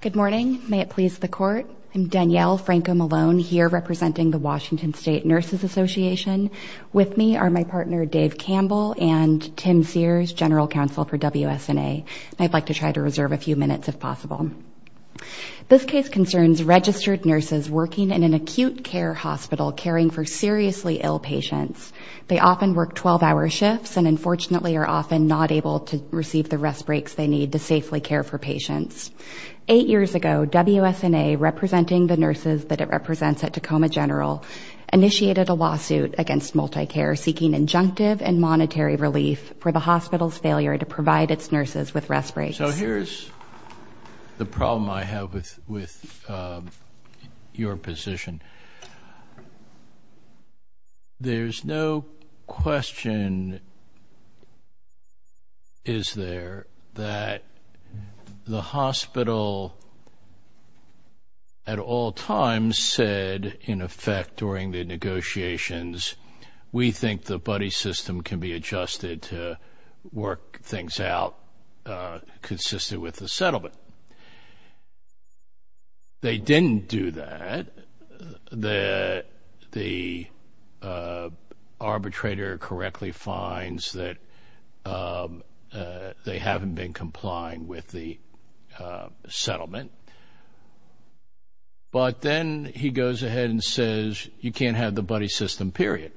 Good morning. May it please the court. I'm Danielle Franco-Malone here representing the Washington State Nurses Association. With me are my partner Dave Campbell and Tim Sears, General Counsel for WSNA. I'd like to try to reserve a few minutes if possible. This case concerns registered nurses working in an acute care hospital caring for seriously ill patients. They often work 12-hour shifts and unfortunately are often not able to receive the rest breaks they need to care for patients. Eight years ago WSNA, representing the nurses that it represents at Tacoma General, initiated a lawsuit against Multicare seeking injunctive and monetary relief for the hospital's failure to provide its nurses with rest breaks. So here's the problem I have with with your position. There's no question is there that the hospital at all times said in effect during the negotiations we think the buddy system can be adjusted to work things out consistent with the settlement. They didn't do that. The arbitrator correctly finds that they haven't been complying with the settlement but then he goes ahead and says you can't have the buddy system period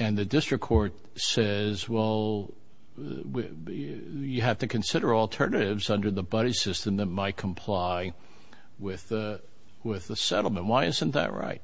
and the district court says well you have to consider alternatives under the buddy system that might comply with the with the settlement. Why isn't that right?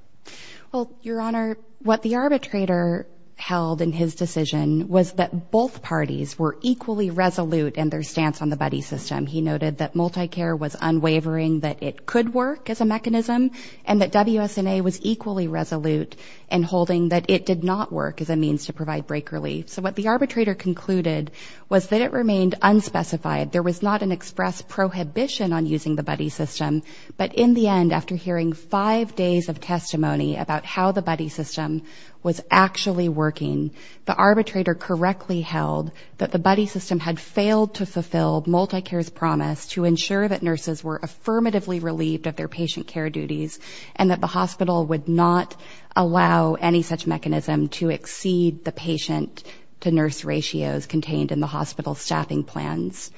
Well your honor what the arbitrator held in his decision was that both parties were equally resolute in their stance on the buddy system. He noted that Multicare was unwavering that it could work as a mechanism and that WSNA was equally resolute in holding that it did not work as a means to provide break relief. So what the arbitrator concluded was that it remained unspecified. There was not an express prohibition on using the buddy system but in the end after hearing five days of testimony about how the buddy system was actually working the arbitrator correctly held that the buddy system had failed to fulfill Multicare's promise to ensure that nurses were affirmatively relieved of their patient care duties and that the hospital would not allow any such mechanism to exceed the patient-to-nurse ratios contained in the hospital staffing plans.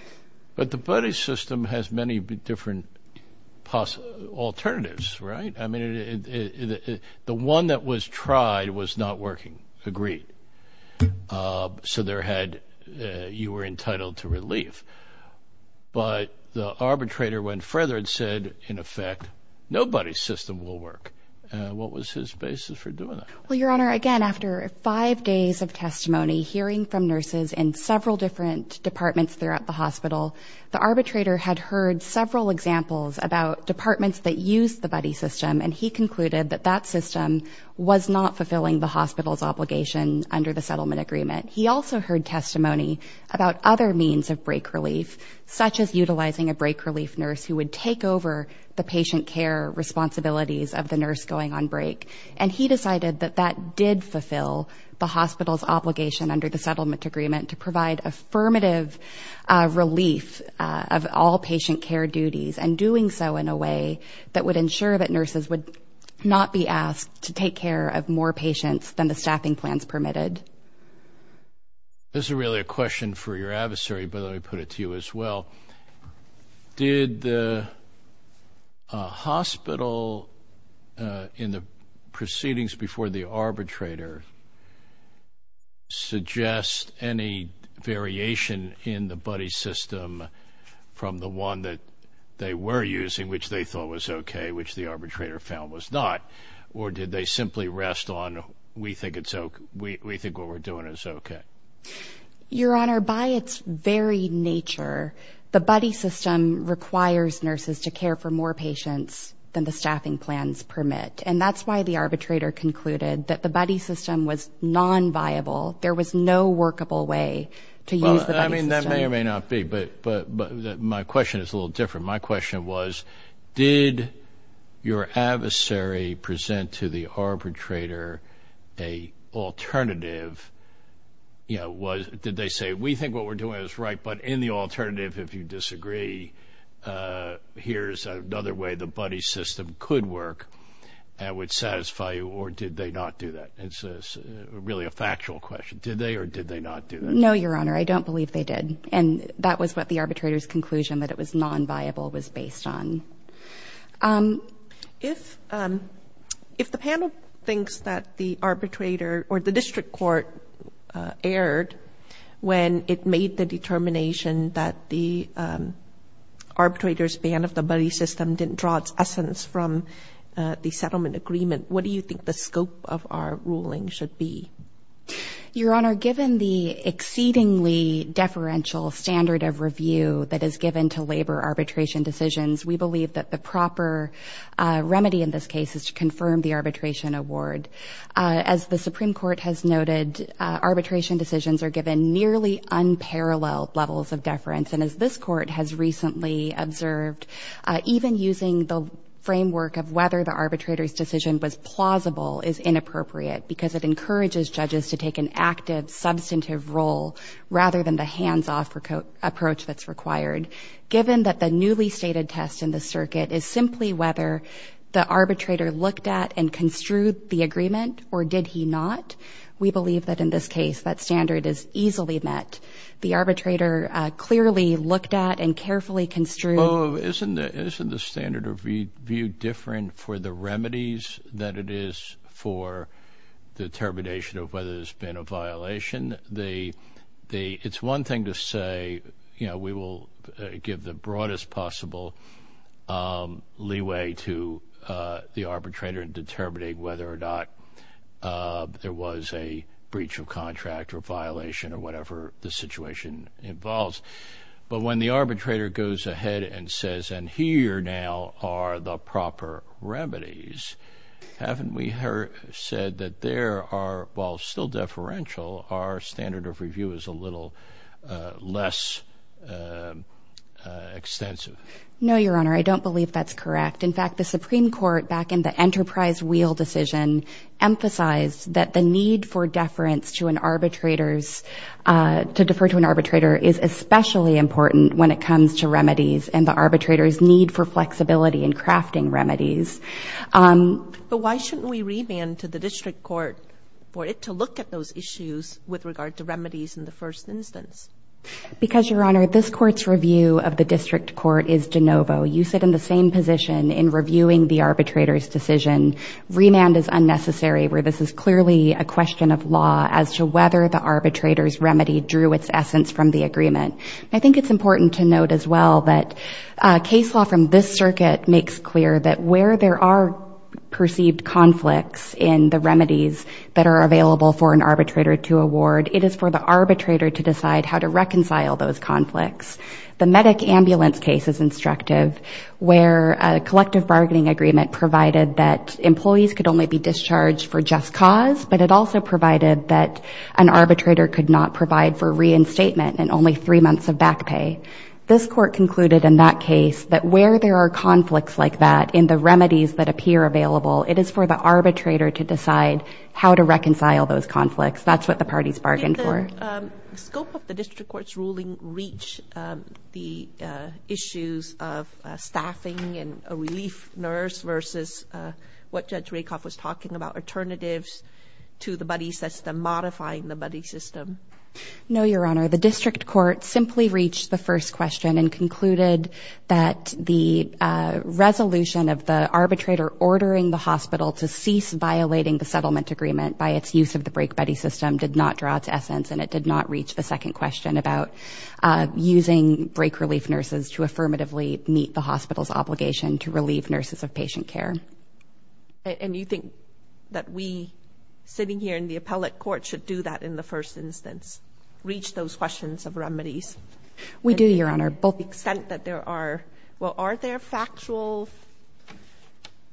But the buddy system has many different possible alternatives right? I mean the one that was tried was not working agreed so there had you were no buddy system will work. What was his basis for doing that? Well your honor again after five days of testimony hearing from nurses in several different departments throughout the hospital the arbitrator had heard several examples about departments that use the buddy system and he concluded that that system was not fulfilling the hospital's obligation under the settlement agreement. He also heard testimony about other means of break relief such as responsibilities of the nurse going on break and he decided that that did fulfill the hospital's obligation under the settlement agreement to provide affirmative relief of all patient care duties and doing so in a way that would ensure that nurses would not be asked to take care of more patients than the staffing plans permitted. This is really a question for your adversary but I put it to you as well. Did the hospital in the proceedings before the arbitrator suggest any variation in the buddy system from the one that they were using which they thought was okay which the arbitrator found was not or did they simply rest on we think it's okay we think what we're doing is okay? Your adversary presented to the arbitrator an alternative. Did they say we think what we're doing is right but in the alternative if you disagree here's another way the buddy system could work and would satisfy you or did they not do that? It's really a factual question. Did they or did they not do that? No your honor I don't believe they did and that was what the arbitrators conclusion that it was non-viable was based on. If if the panel thinks that the arbitrator or the district court erred when it made the determination that the arbitrators ban of the buddy system didn't draw its essence from the settlement agreement what do you think the scope of our ruling should be? Your honor given the exceedingly deferential standard of review that is given to labor arbitration decisions we believe that the proper remedy in this case is to confirm the arbitration award. As the Supreme Court has noted arbitration decisions are given nearly unparalleled levels of deference and as this court has recently observed even using the framework of whether the arbitrators decision was plausible is inappropriate because it encourages judges to take an active substantive role rather than the hands-off approach that's required. Given that the newly stated test in the circuit is simply whether the arbitrator looked at and construed the agreement or did he not we believe that in this case that standard is easily met. The arbitrator clearly looked at and carefully construed. Oh isn't the isn't the standard of view different for the remedies that it is for the termination of whether there's been a violation they they it's one thing to say you know we will give the broadest possible leeway to the arbitrator and determinate whether or not there was a breach of contract or violation or whatever the situation involves but when the arbitrator goes ahead and says and here now are the proper remedies haven't we heard said that there are while still deferential our standard of review is a little less extensive. No your honor I don't believe that's correct in fact the Supreme Court back in the enterprise wheel decision emphasized that the need for deference to an arbitrators to refer to an arbitrator is especially important when it comes to remedies and the arbitrators need for flexibility in crafting remedies. But why shouldn't we remand to the district court for it to look at those issues with regard to remedies in the first instance? Because your honor this court's review of the district court is de novo. You sit in the same position in reviewing the arbitrators decision. Remand is unnecessary where this is clearly a essence from the agreement. I think it's important to note as well that case law from this circuit makes clear that where there are perceived conflicts in the remedies that are available for an arbitrator to award it is for the arbitrator to decide how to reconcile those conflicts. The medic ambulance case is instructive where a collective bargaining agreement provided that employees could only be discharged for just cause but it also provided that an statement and only three months of back pay. This court concluded in that case that where there are conflicts like that in the remedies that appear available it is for the arbitrator to decide how to reconcile those conflicts. That's what the parties bargained for. Did the scope of the district court's ruling reach the issues of staffing and a relief nurse versus what Judge Rakoff was talking about alternatives to the buddy system modifying the buddy system? No, your honor. The district court simply reached the first question and concluded that the resolution of the arbitrator ordering the hospital to cease violating the settlement agreement by its use of the break buddy system did not draw to essence and it did not reach the second question about using break relief nurses to affirmatively meet the hospital's obligation to relieve nurses of patient care. And you think that we sitting here in the appellate court should do that in the first instance? Reach those questions of remedies? We do, your honor. But the extent that there are, well, are there factual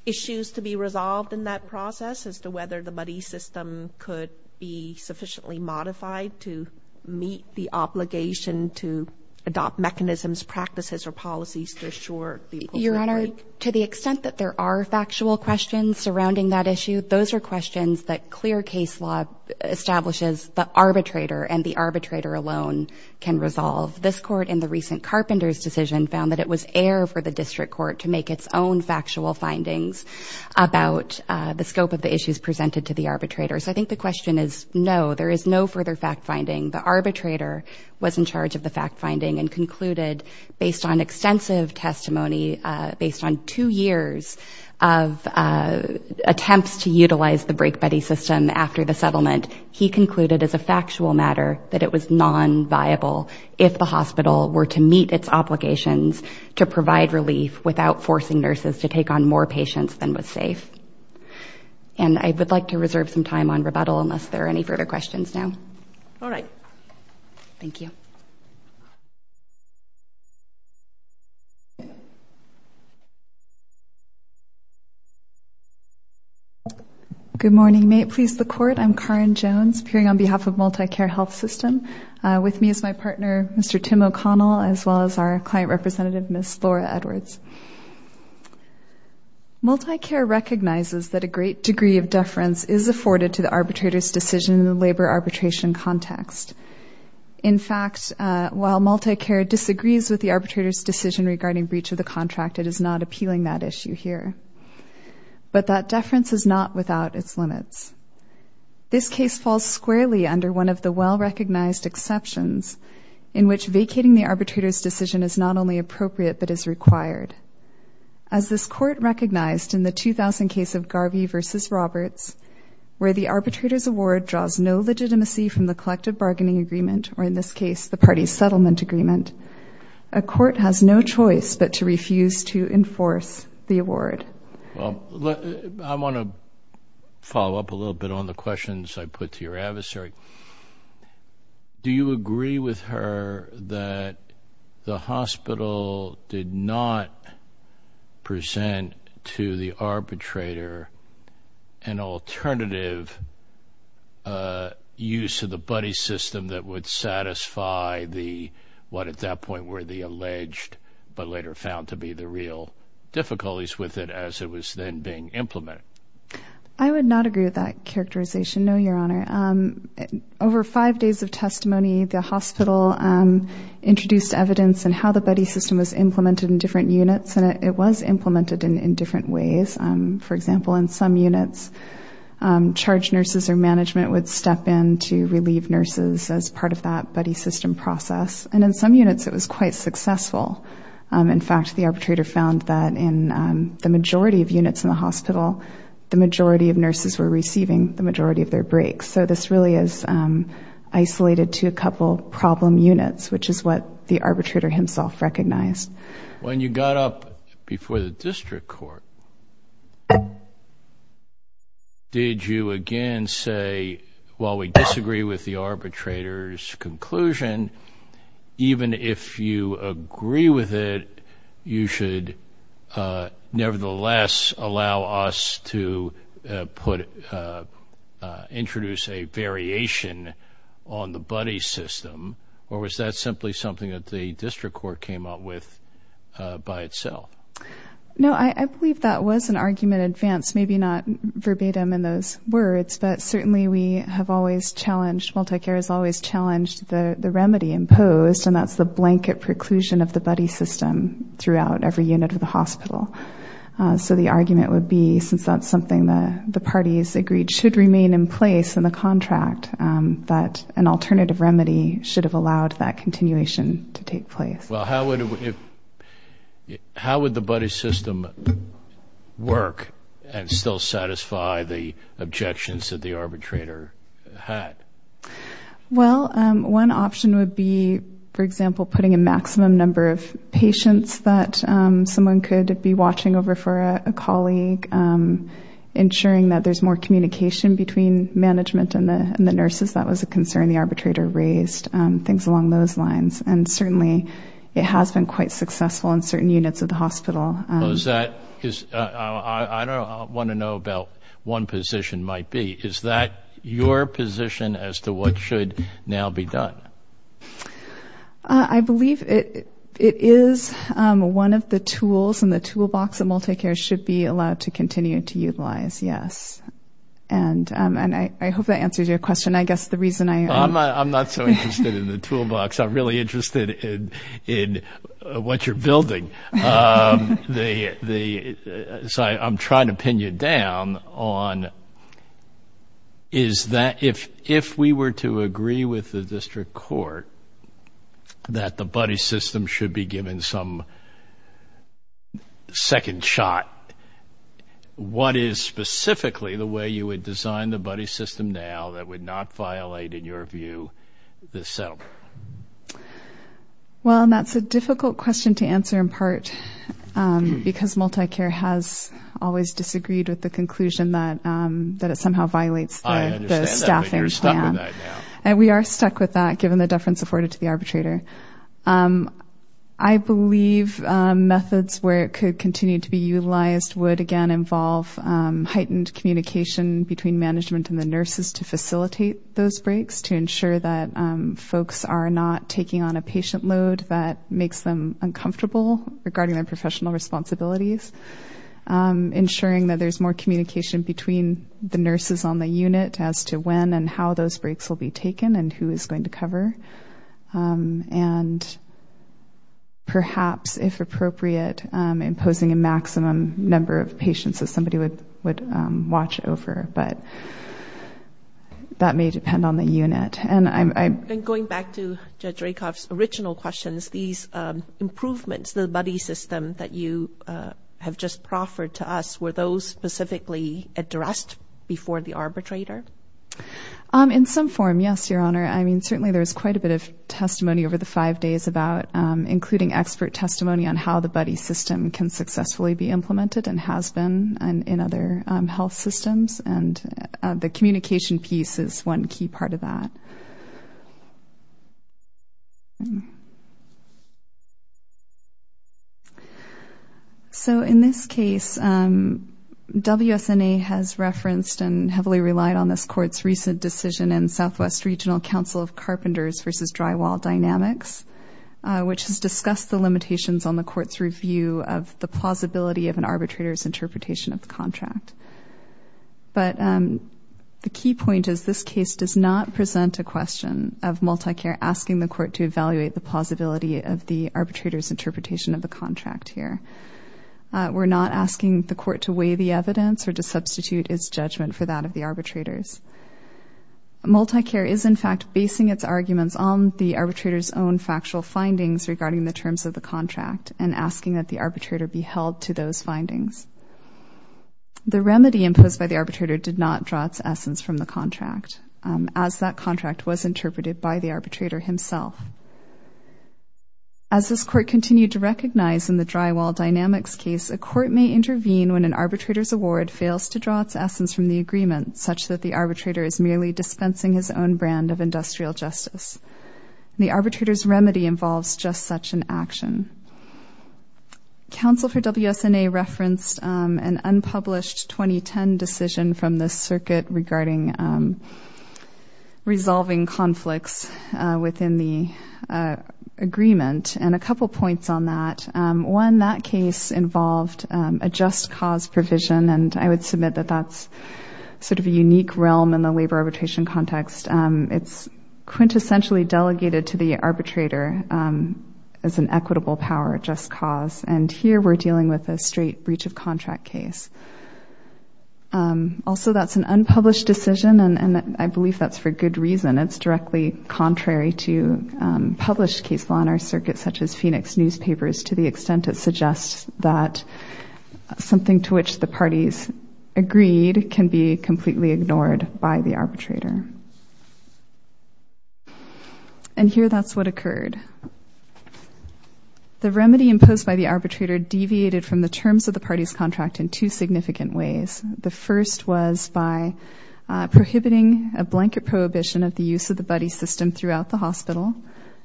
issues to be resolved in that process as to whether the buddy system could be sufficiently modified to meet the obligation to adopt mechanisms, practices, or policies to assure? Your honor, to the extent that there are factual questions surrounding that issue, those are questions that clear case law establishes the arbitrator and the arbitrator alone can resolve. This court in the recent Carpenter's decision found that it was air for the district court to make its own factual findings about the scope of the issues presented to the arbitrators. I think the question is no, there is no further fact-finding. The arbitrator was in charge of the fact-finding and concluded based on extensive testimony, based on two years of attempts to utilize the break buddy system after the settlement, he concluded as a factual matter that it was non-viable if the hospital were to meet its obligations to provide relief without forcing nurses to take on more patients than was safe. And I would like to reserve some time on rebuttal unless there are any further questions now. All right. Thank you. Good morning. May it please the court, I'm Karin Jones appearing on behalf of MultiCare Health System. With me is my partner, Mr. Tim O'Connell, as well as our client representative, Ms. Laura Edwards. MultiCare recognizes that a great degree of deference is afforded to the arbitrator's decision in the labor arbitration context. In fact, while MultiCare disagrees with the is not appealing that issue here. But that deference is not without its limits. This case falls squarely under one of the well-recognized exceptions in which vacating the arbitrator's decision is not only appropriate but is required. As this court recognized in the 2000 case of Garvey versus Roberts, where the arbitrator's award draws no legitimacy from the collective bargaining agreement, or in this case the party's settlement agreement, a court has no choice but to choose to enforce the award. Well, I want to follow up a little bit on the questions I put to your adversary. Do you agree with her that the hospital did not present to the arbitrator an alternative use of the buddy system that would create real difficulties with it as it was then being implemented? I would not agree with that characterization, no, your honor. Over five days of testimony, the hospital introduced evidence and how the buddy system was implemented in different units, and it was implemented in different ways. For example, in some units, charge nurses or management would step in to relieve nurses as part of that buddy system process, and in some units it was quite successful. In fact, the arbitrator found that in the majority of units in the hospital, the majority of nurses were receiving the majority of their breaks. So this really is isolated to a couple problem units, which is what the arbitrator himself recognized. When you got up before the district court, did you again say, while we disagree with the arbitrator's conclusion, even if you agree with it, you should nevertheless allow us to put, introduce a variation on the buddy system, or was that simply something that the district court came up with by itself? No, I believe that was an argument in advance, maybe not verbatim in those words, but certainly we have always challenged, MultiCare has always challenged the remedy imposed, and that's the blanket preclusion of the buddy system throughout every unit of the hospital. So the argument would be, since that's something that the parties agreed should remain in place in the contract, that an alternative remedy should have allowed that continuation to take place. Well, how would the buddy system work and still satisfy the objections that the arbitrator had? Well, one option would be, for example, putting a maximum number of patients that someone could be watching over for a colleague, ensuring that there's more communication between management and the nurses, that was a it has been quite successful in certain units of the hospital. I want to know about one position might be, is that your position as to what should now be done? I believe it is one of the tools in the toolbox that MultiCare should be allowed to continue to utilize, yes. And I hope that answers your question. I guess the reason I... I'm not so interested in the toolbox, I'm really interested in what you're building. So I'm trying to pin you down on, is that if we were to agree with the district court that the buddy system should be given some second shot, what is specifically the way you would design the buddy system now that would not violate, in your view, the settlement? Well, and that's a difficult question to answer in part because MultiCare has always disagreed with the conclusion that it somehow violates the staffing plan. And we are stuck with that given the deference afforded to the arbitrator. I believe methods where it could continue to be utilized would, again, involve heightened communication between management and the nurses to facilitate those breaks, to ensure that folks are not taking on a patient load that makes them uncomfortable regarding their professional responsibilities. Ensuring that there's more communication between the nurses on the unit as to when and how those breaks will be taken and who is going to cover. And perhaps, if we were to go back to Judge Rakoff's original questions, these improvements, the buddy system that you have just proffered to us, were those specifically addressed before the arbitrator? In some form, yes, Your Honor. I mean, certainly there's quite a bit of testimony over the five days about including expert testimony on how the buddy system can improve their health systems. And the communication piece is one key part of that. So in this case, WSNA has referenced and heavily relied on this court's recent decision in Southwest Regional Council of Carpenters v. Drywall Dynamics, which has discussed the limitations on the court's review of the plausibility of an arbitrator's interpretation of the contract. But the key point is this case does not present a question of MultiCare asking the court to evaluate the plausibility of the arbitrator's interpretation of the contract here. We're not asking the court to weigh the evidence or to substitute its judgment for that of the arbitrators. MultiCare is, in fact, basing its arguments on the arbitrator's own factual findings regarding the terms of the contract and asking that the arbitrator be held to those findings. The remedy imposed by the arbitrator did not draw its essence from the contract, as that contract was interpreted by the arbitrator himself. As this court continued to recognize in the Drywall Dynamics case, a court may intervene when an arbitrator's award fails to draw its essence from the agreement, such that the arbitrator is merely dispensing his own brand of industrial justice. The arbitrator's counsel for WSNA referenced an unpublished 2010 decision from the circuit regarding resolving conflicts within the agreement, and a couple points on that. One, that case involved a just cause provision, and I would submit that that's sort of a unique realm in the labor arbitration context. It's quintessentially delegated to the arbitrator as an equitable power, just cause, and here we're dealing with a straight breach of contract case. Also, that's an unpublished decision, and I believe that's for good reason. It's directly contrary to published case law in our circuit, such as Phoenix newspapers, to the extent it suggests that something to which the parties agreed can be completely ignored by the arbitrator. And here that's what occurred. The remedy imposed by the arbitrator deviated from the terms of the parties contract in two significant ways. The first was by prohibiting a blanket prohibition of the use of the buddy system throughout the hospital,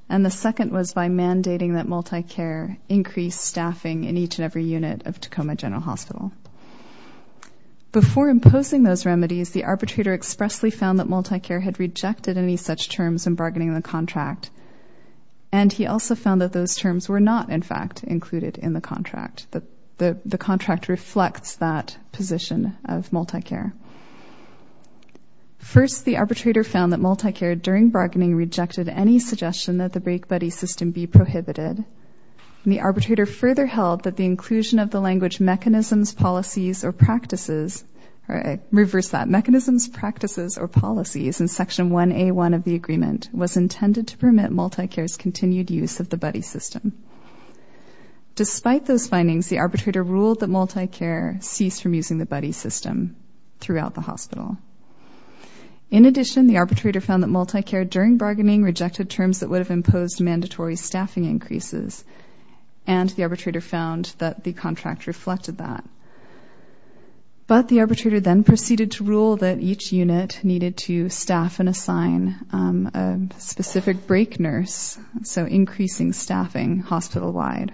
and the second was by mandating that multi-care increase staffing in each and every unit of Tacoma General Hospital. Before imposing those remedies, the arbitrator expressly found that multi-care had rejected any such terms in bargaining the contract, and he also found that those terms were not, in fact, included in the contract. The contract reflects that position of multi-care. First, the arbitrator found that multi-care, during bargaining, rejected any suggestion that the break buddy system be prohibited. The arbitrator further held that the language mechanisms, policies, or practices, or I reversed that, mechanisms, practices, or policies, in section 1A1 of the agreement, was intended to permit multi-care's continued use of the buddy system. Despite those findings, the arbitrator ruled that multi-care ceased from using the buddy system throughout the hospital. In addition, the arbitrator found that multi-care, during bargaining, rejected terms that would have imposed mandatory staffing increases, and the contract reflected that. But the arbitrator then proceeded to rule that each unit needed to staff and assign a specific break nurse, so increasing staffing hospital-wide.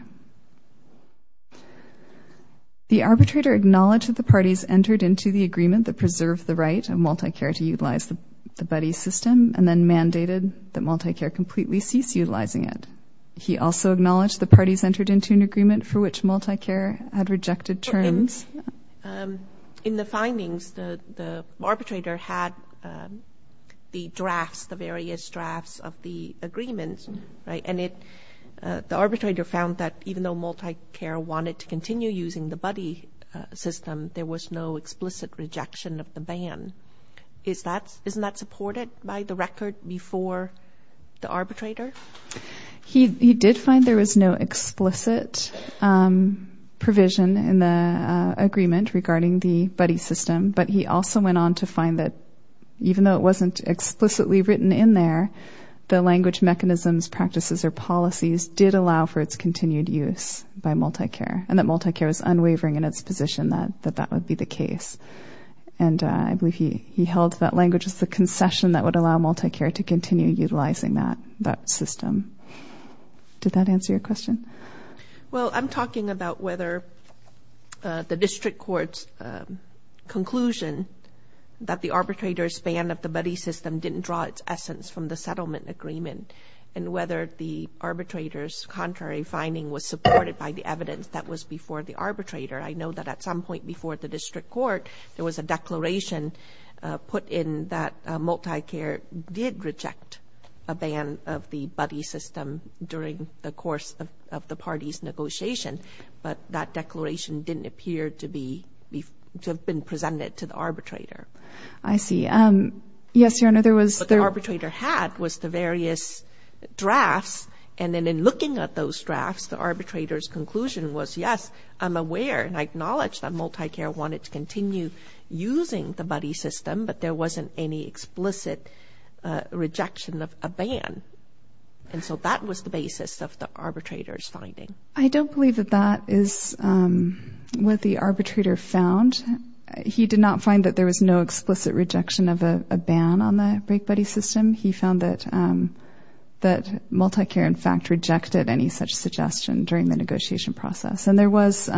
The arbitrator acknowledged that the parties entered into the agreement that preserved the right of multi-care to utilize the buddy system, and then mandated that multi-care completely cease utilizing it. He also acknowledged the parties entered into an agreement for which multi-care had rejected terms. In the findings, the arbitrator had the drafts, the various drafts of the agreements, right, and it, the arbitrator found that even though multi-care wanted to continue using the buddy system, there was no explicit rejection of the ban. Is that, isn't that supported by the record before the agreement? There is no explicit provision in the agreement regarding the buddy system, but he also went on to find that even though it wasn't explicitly written in there, the language, mechanisms, practices, or policies did allow for its continued use by multi-care, and that multi-care was unwavering in its position that that would be the case. And I believe he held that language as the concession that would allow multi-care to continue utilizing that system. Did that answer your question? Well, I'm talking about whether the district court's conclusion that the arbitrator's ban of the buddy system didn't draw its essence from the settlement agreement, and whether the arbitrator's contrary finding was supported by the evidence that was before the arbitrator. I know that at some point before the district court, there was a declaration put in that the buddy system during the course of the party's negotiation, but that declaration didn't appear to be, to have been presented to the arbitrator. I see. Yes, Your Honor, there was... What the arbitrator had was the various drafts, and then in looking at those drafts, the arbitrator's conclusion was, yes, I'm aware, and I acknowledge that multi-care wanted to continue using the buddy system, but there wasn't any and so that was the basis of the arbitrator's finding. I don't believe that that is what the arbitrator found. He did not find that there was no explicit rejection of a ban on the break buddy system. He found that multi-care, in fact, rejected any such suggestion during the negotiation process. And there was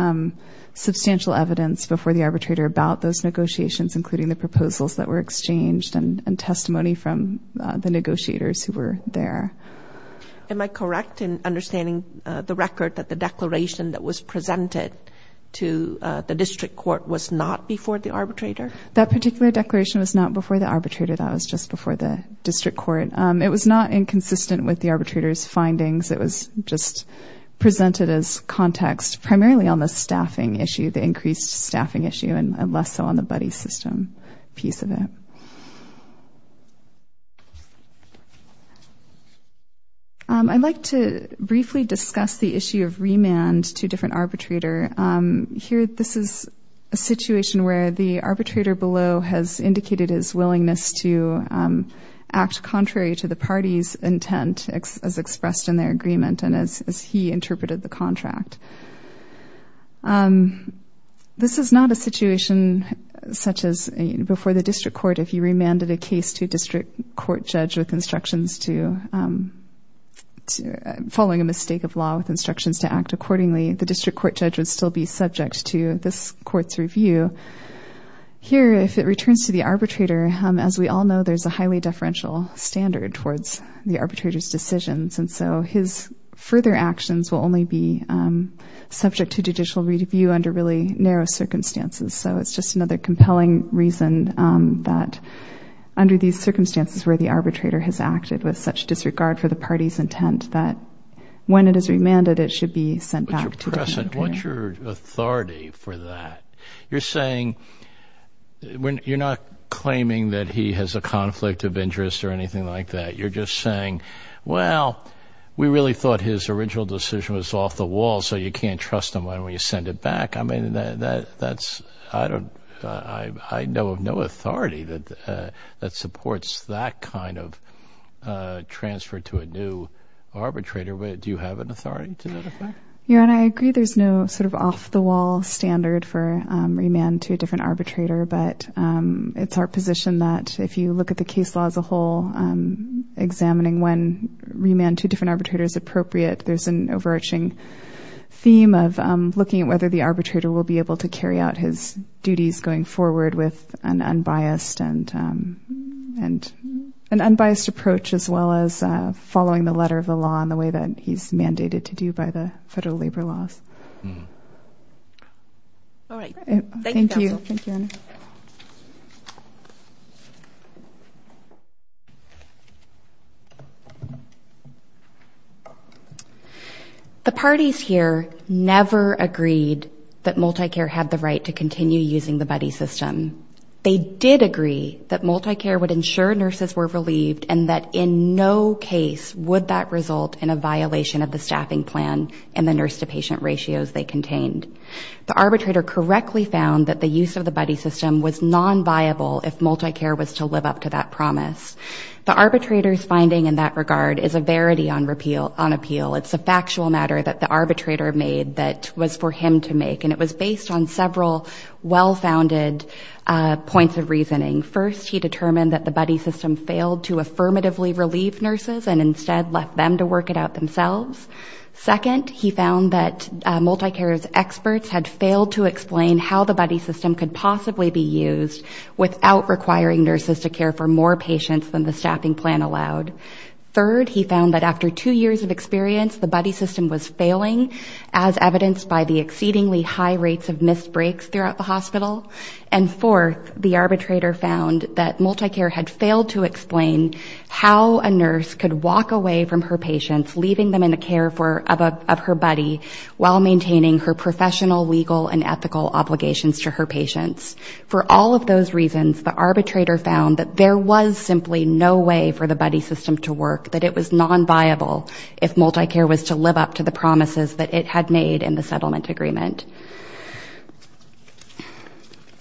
substantial evidence before the arbitrator about those negotiations, including the proposals that were exchanged and testimony from the negotiators who were there. Am I correct in understanding the record that the declaration that was presented to the district court was not before the arbitrator? That particular declaration was not before the arbitrator. That was just before the district court. It was not inconsistent with the arbitrator's findings. It was just presented as context primarily on the staffing issue, the increased staffing issue, and less so on the buddy system piece of it. I'd like to briefly discuss the issue of remand to different arbitrator. Here, this is a situation where the arbitrator below has indicated his willingness to act contrary to the party's intent as expressed in their agreement and as he interpreted the contract. This is not a situation such as before the district court if you remanded a district court judge with instructions to following a mistake of law with instructions to act accordingly, the district court judge would still be subject to this court's review. Here, if it returns to the arbitrator, as we all know, there's a highly deferential standard towards the arbitrator's decisions. And so his further actions will only be subject to judicial review under really narrow circumstances. So it's just another circumstances where the arbitrator has acted with such disregard for the party's intent that when it is remanded, it should be sent back to the president. What's your authority for that? You're saying when you're not claiming that he has a conflict of interest or anything like that. You're just saying, well, we really thought his original decision was off the wall. So you can't trust him when we send it back. I mean, that's I don't I know of authority that supports that kind of transfer to a new arbitrator. Do you have an authority to that effect? Yeah, and I agree there's no sort of off-the-wall standard for remand to a different arbitrator. But it's our position that if you look at the case law as a whole, examining when remand to different arbitrators appropriate, there's an overarching theme of looking at whether the arbitrator will be able to carry out his duties going forward with an unbiased and and an unbiased approach as well as following the letter of the law in the way that he's mandated to do by the federal labor laws. All right. Thank you. The parties here never agreed that MultiCare had the right to continue using the buddy system. They did agree that MultiCare would ensure nurses were relieved and that in no case would that result in a violation of the staffing plan and the nurse-to-patient ratios they contained. The arbitrator correctly found that the use of the buddy system was non-viable if MultiCare was to live up to that promise. The arbitrator's finding in that regard is a verity on appeal. It's a factual matter that the arbitrator made that was for well-founded points of reasoning. First, he determined that the buddy system failed to affirmatively relieve nurses and instead left them to work it out themselves. Second, he found that MultiCare's experts had failed to explain how the buddy system could possibly be used without requiring nurses to care for more patients than the staffing plan allowed. Third, he found that after two years of experience, the buddy system was failing as evidenced by the And fourth, the arbitrator found that MultiCare had failed to explain how a nurse could walk away from her patients, leaving them in the care of her buddy while maintaining her professional, legal, and ethical obligations to her patients. For all of those reasons, the arbitrator found that there was simply no way for the buddy system to work, that it was non-viable if MultiCare was to live up to the promises that it had made in the settlement agreement.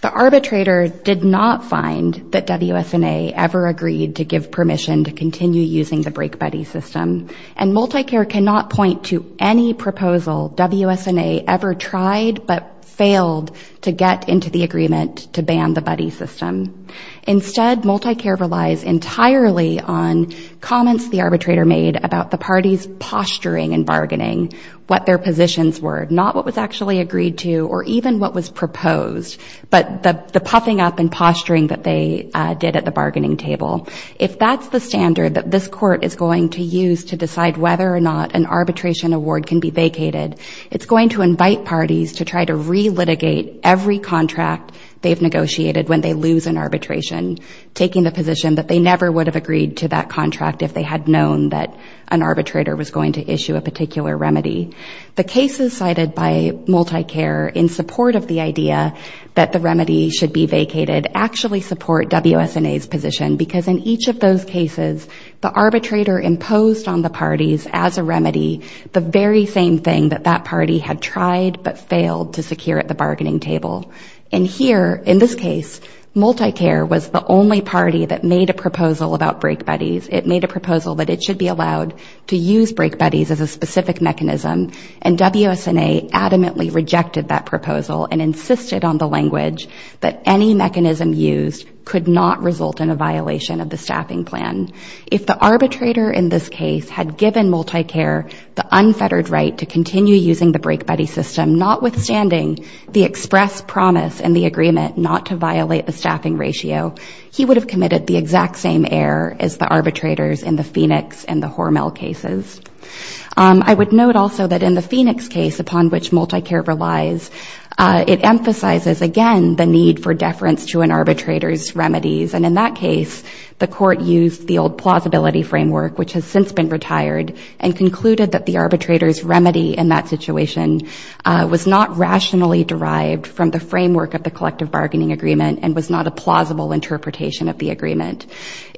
The arbitrator did not find that WSNA ever agreed to give permission to continue using the break buddy system, and MultiCare cannot point to any proposal WSNA ever tried but failed to get into the agreement to ban the buddy system. Instead, MultiCare relies entirely on comments the arbitrator made about the parties posturing and bargaining, what their positions were, not what was actually agreed to or even what was proposed, but the puffing up and posturing that they did at the bargaining table. If that's the standard that this court is going to use to decide whether or not an arbitration award can be vacated, it's going to invite parties to try to re-litigate every contract they've negotiated when they lose an arbitration, taking the position that they never would have agreed to that contract if they had known that an arbitrator was going to issue a particular remedy. The cases cited by MultiCare in support of the idea that the remedy should be vacated actually support WSNA's position because in each of those cases, the arbitrator imposed on the parties as a remedy the very same thing that that party had tried but failed to secure at the bargaining table. And here, in this case, MultiCare was the only party that made a proposal about break buddies. It made a proposal that it should be allowed to use break buddies as a specific mechanism, and WSNA adamantly rejected that proposal and insisted on the language that any mechanism used could not result in a violation of the staffing plan. If the arbitrator in this case had given MultiCare the unfettered right to continue using the break buddy system, notwithstanding the express promise and the agreement not to violate the staffing ratio, he would have committed the exact same error as the arbitrators in the Phoenix and the Hormel cases. I would note also that in the Phoenix case upon which MultiCare relies, it emphasizes again the need for deference to an arbitrator's remedies. And in that case, the court used the old plausibility framework, which has since been retired, and concluded that the arbitrator's remedy in that situation was not rationally derived from the framework of the collective bargaining agreement and was not a plausible interpretation of the agreement.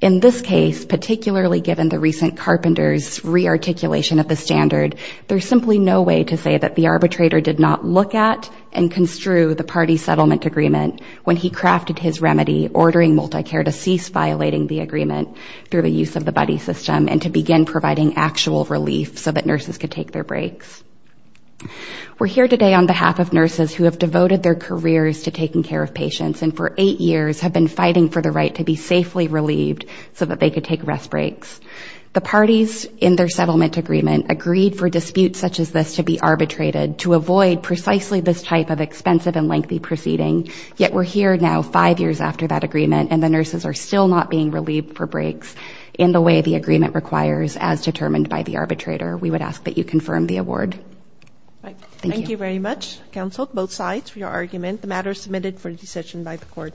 In this case, particularly given the recent carpenters' re-articulation of the standard, there's simply no way to say that the arbitrator did not look at and construe the party settlement agreement when he crafted his remedy, ordering MultiCare to cease violating the agreement through the use of the buddy system and to begin providing actual relief so that nurses could take their breaks. We're here today on behalf of nurses who have devoted their careers to taking care of patients and for eight years have been fighting for the right to be safely relieved so that they could take rest breaks. The parties in their settlement agreement agreed for disputes such as this to be arbitrated to avoid precisely this type of expensive and lengthy proceeding, yet we're here now five years after that agreement and the nurses are still not being relieved for breaks in the way the agreement requires as determined by the arbitrator. We would ask that you confirm the award. Thank you very much, counsel, both sides for your argument. The matter is admitted for the session by the court.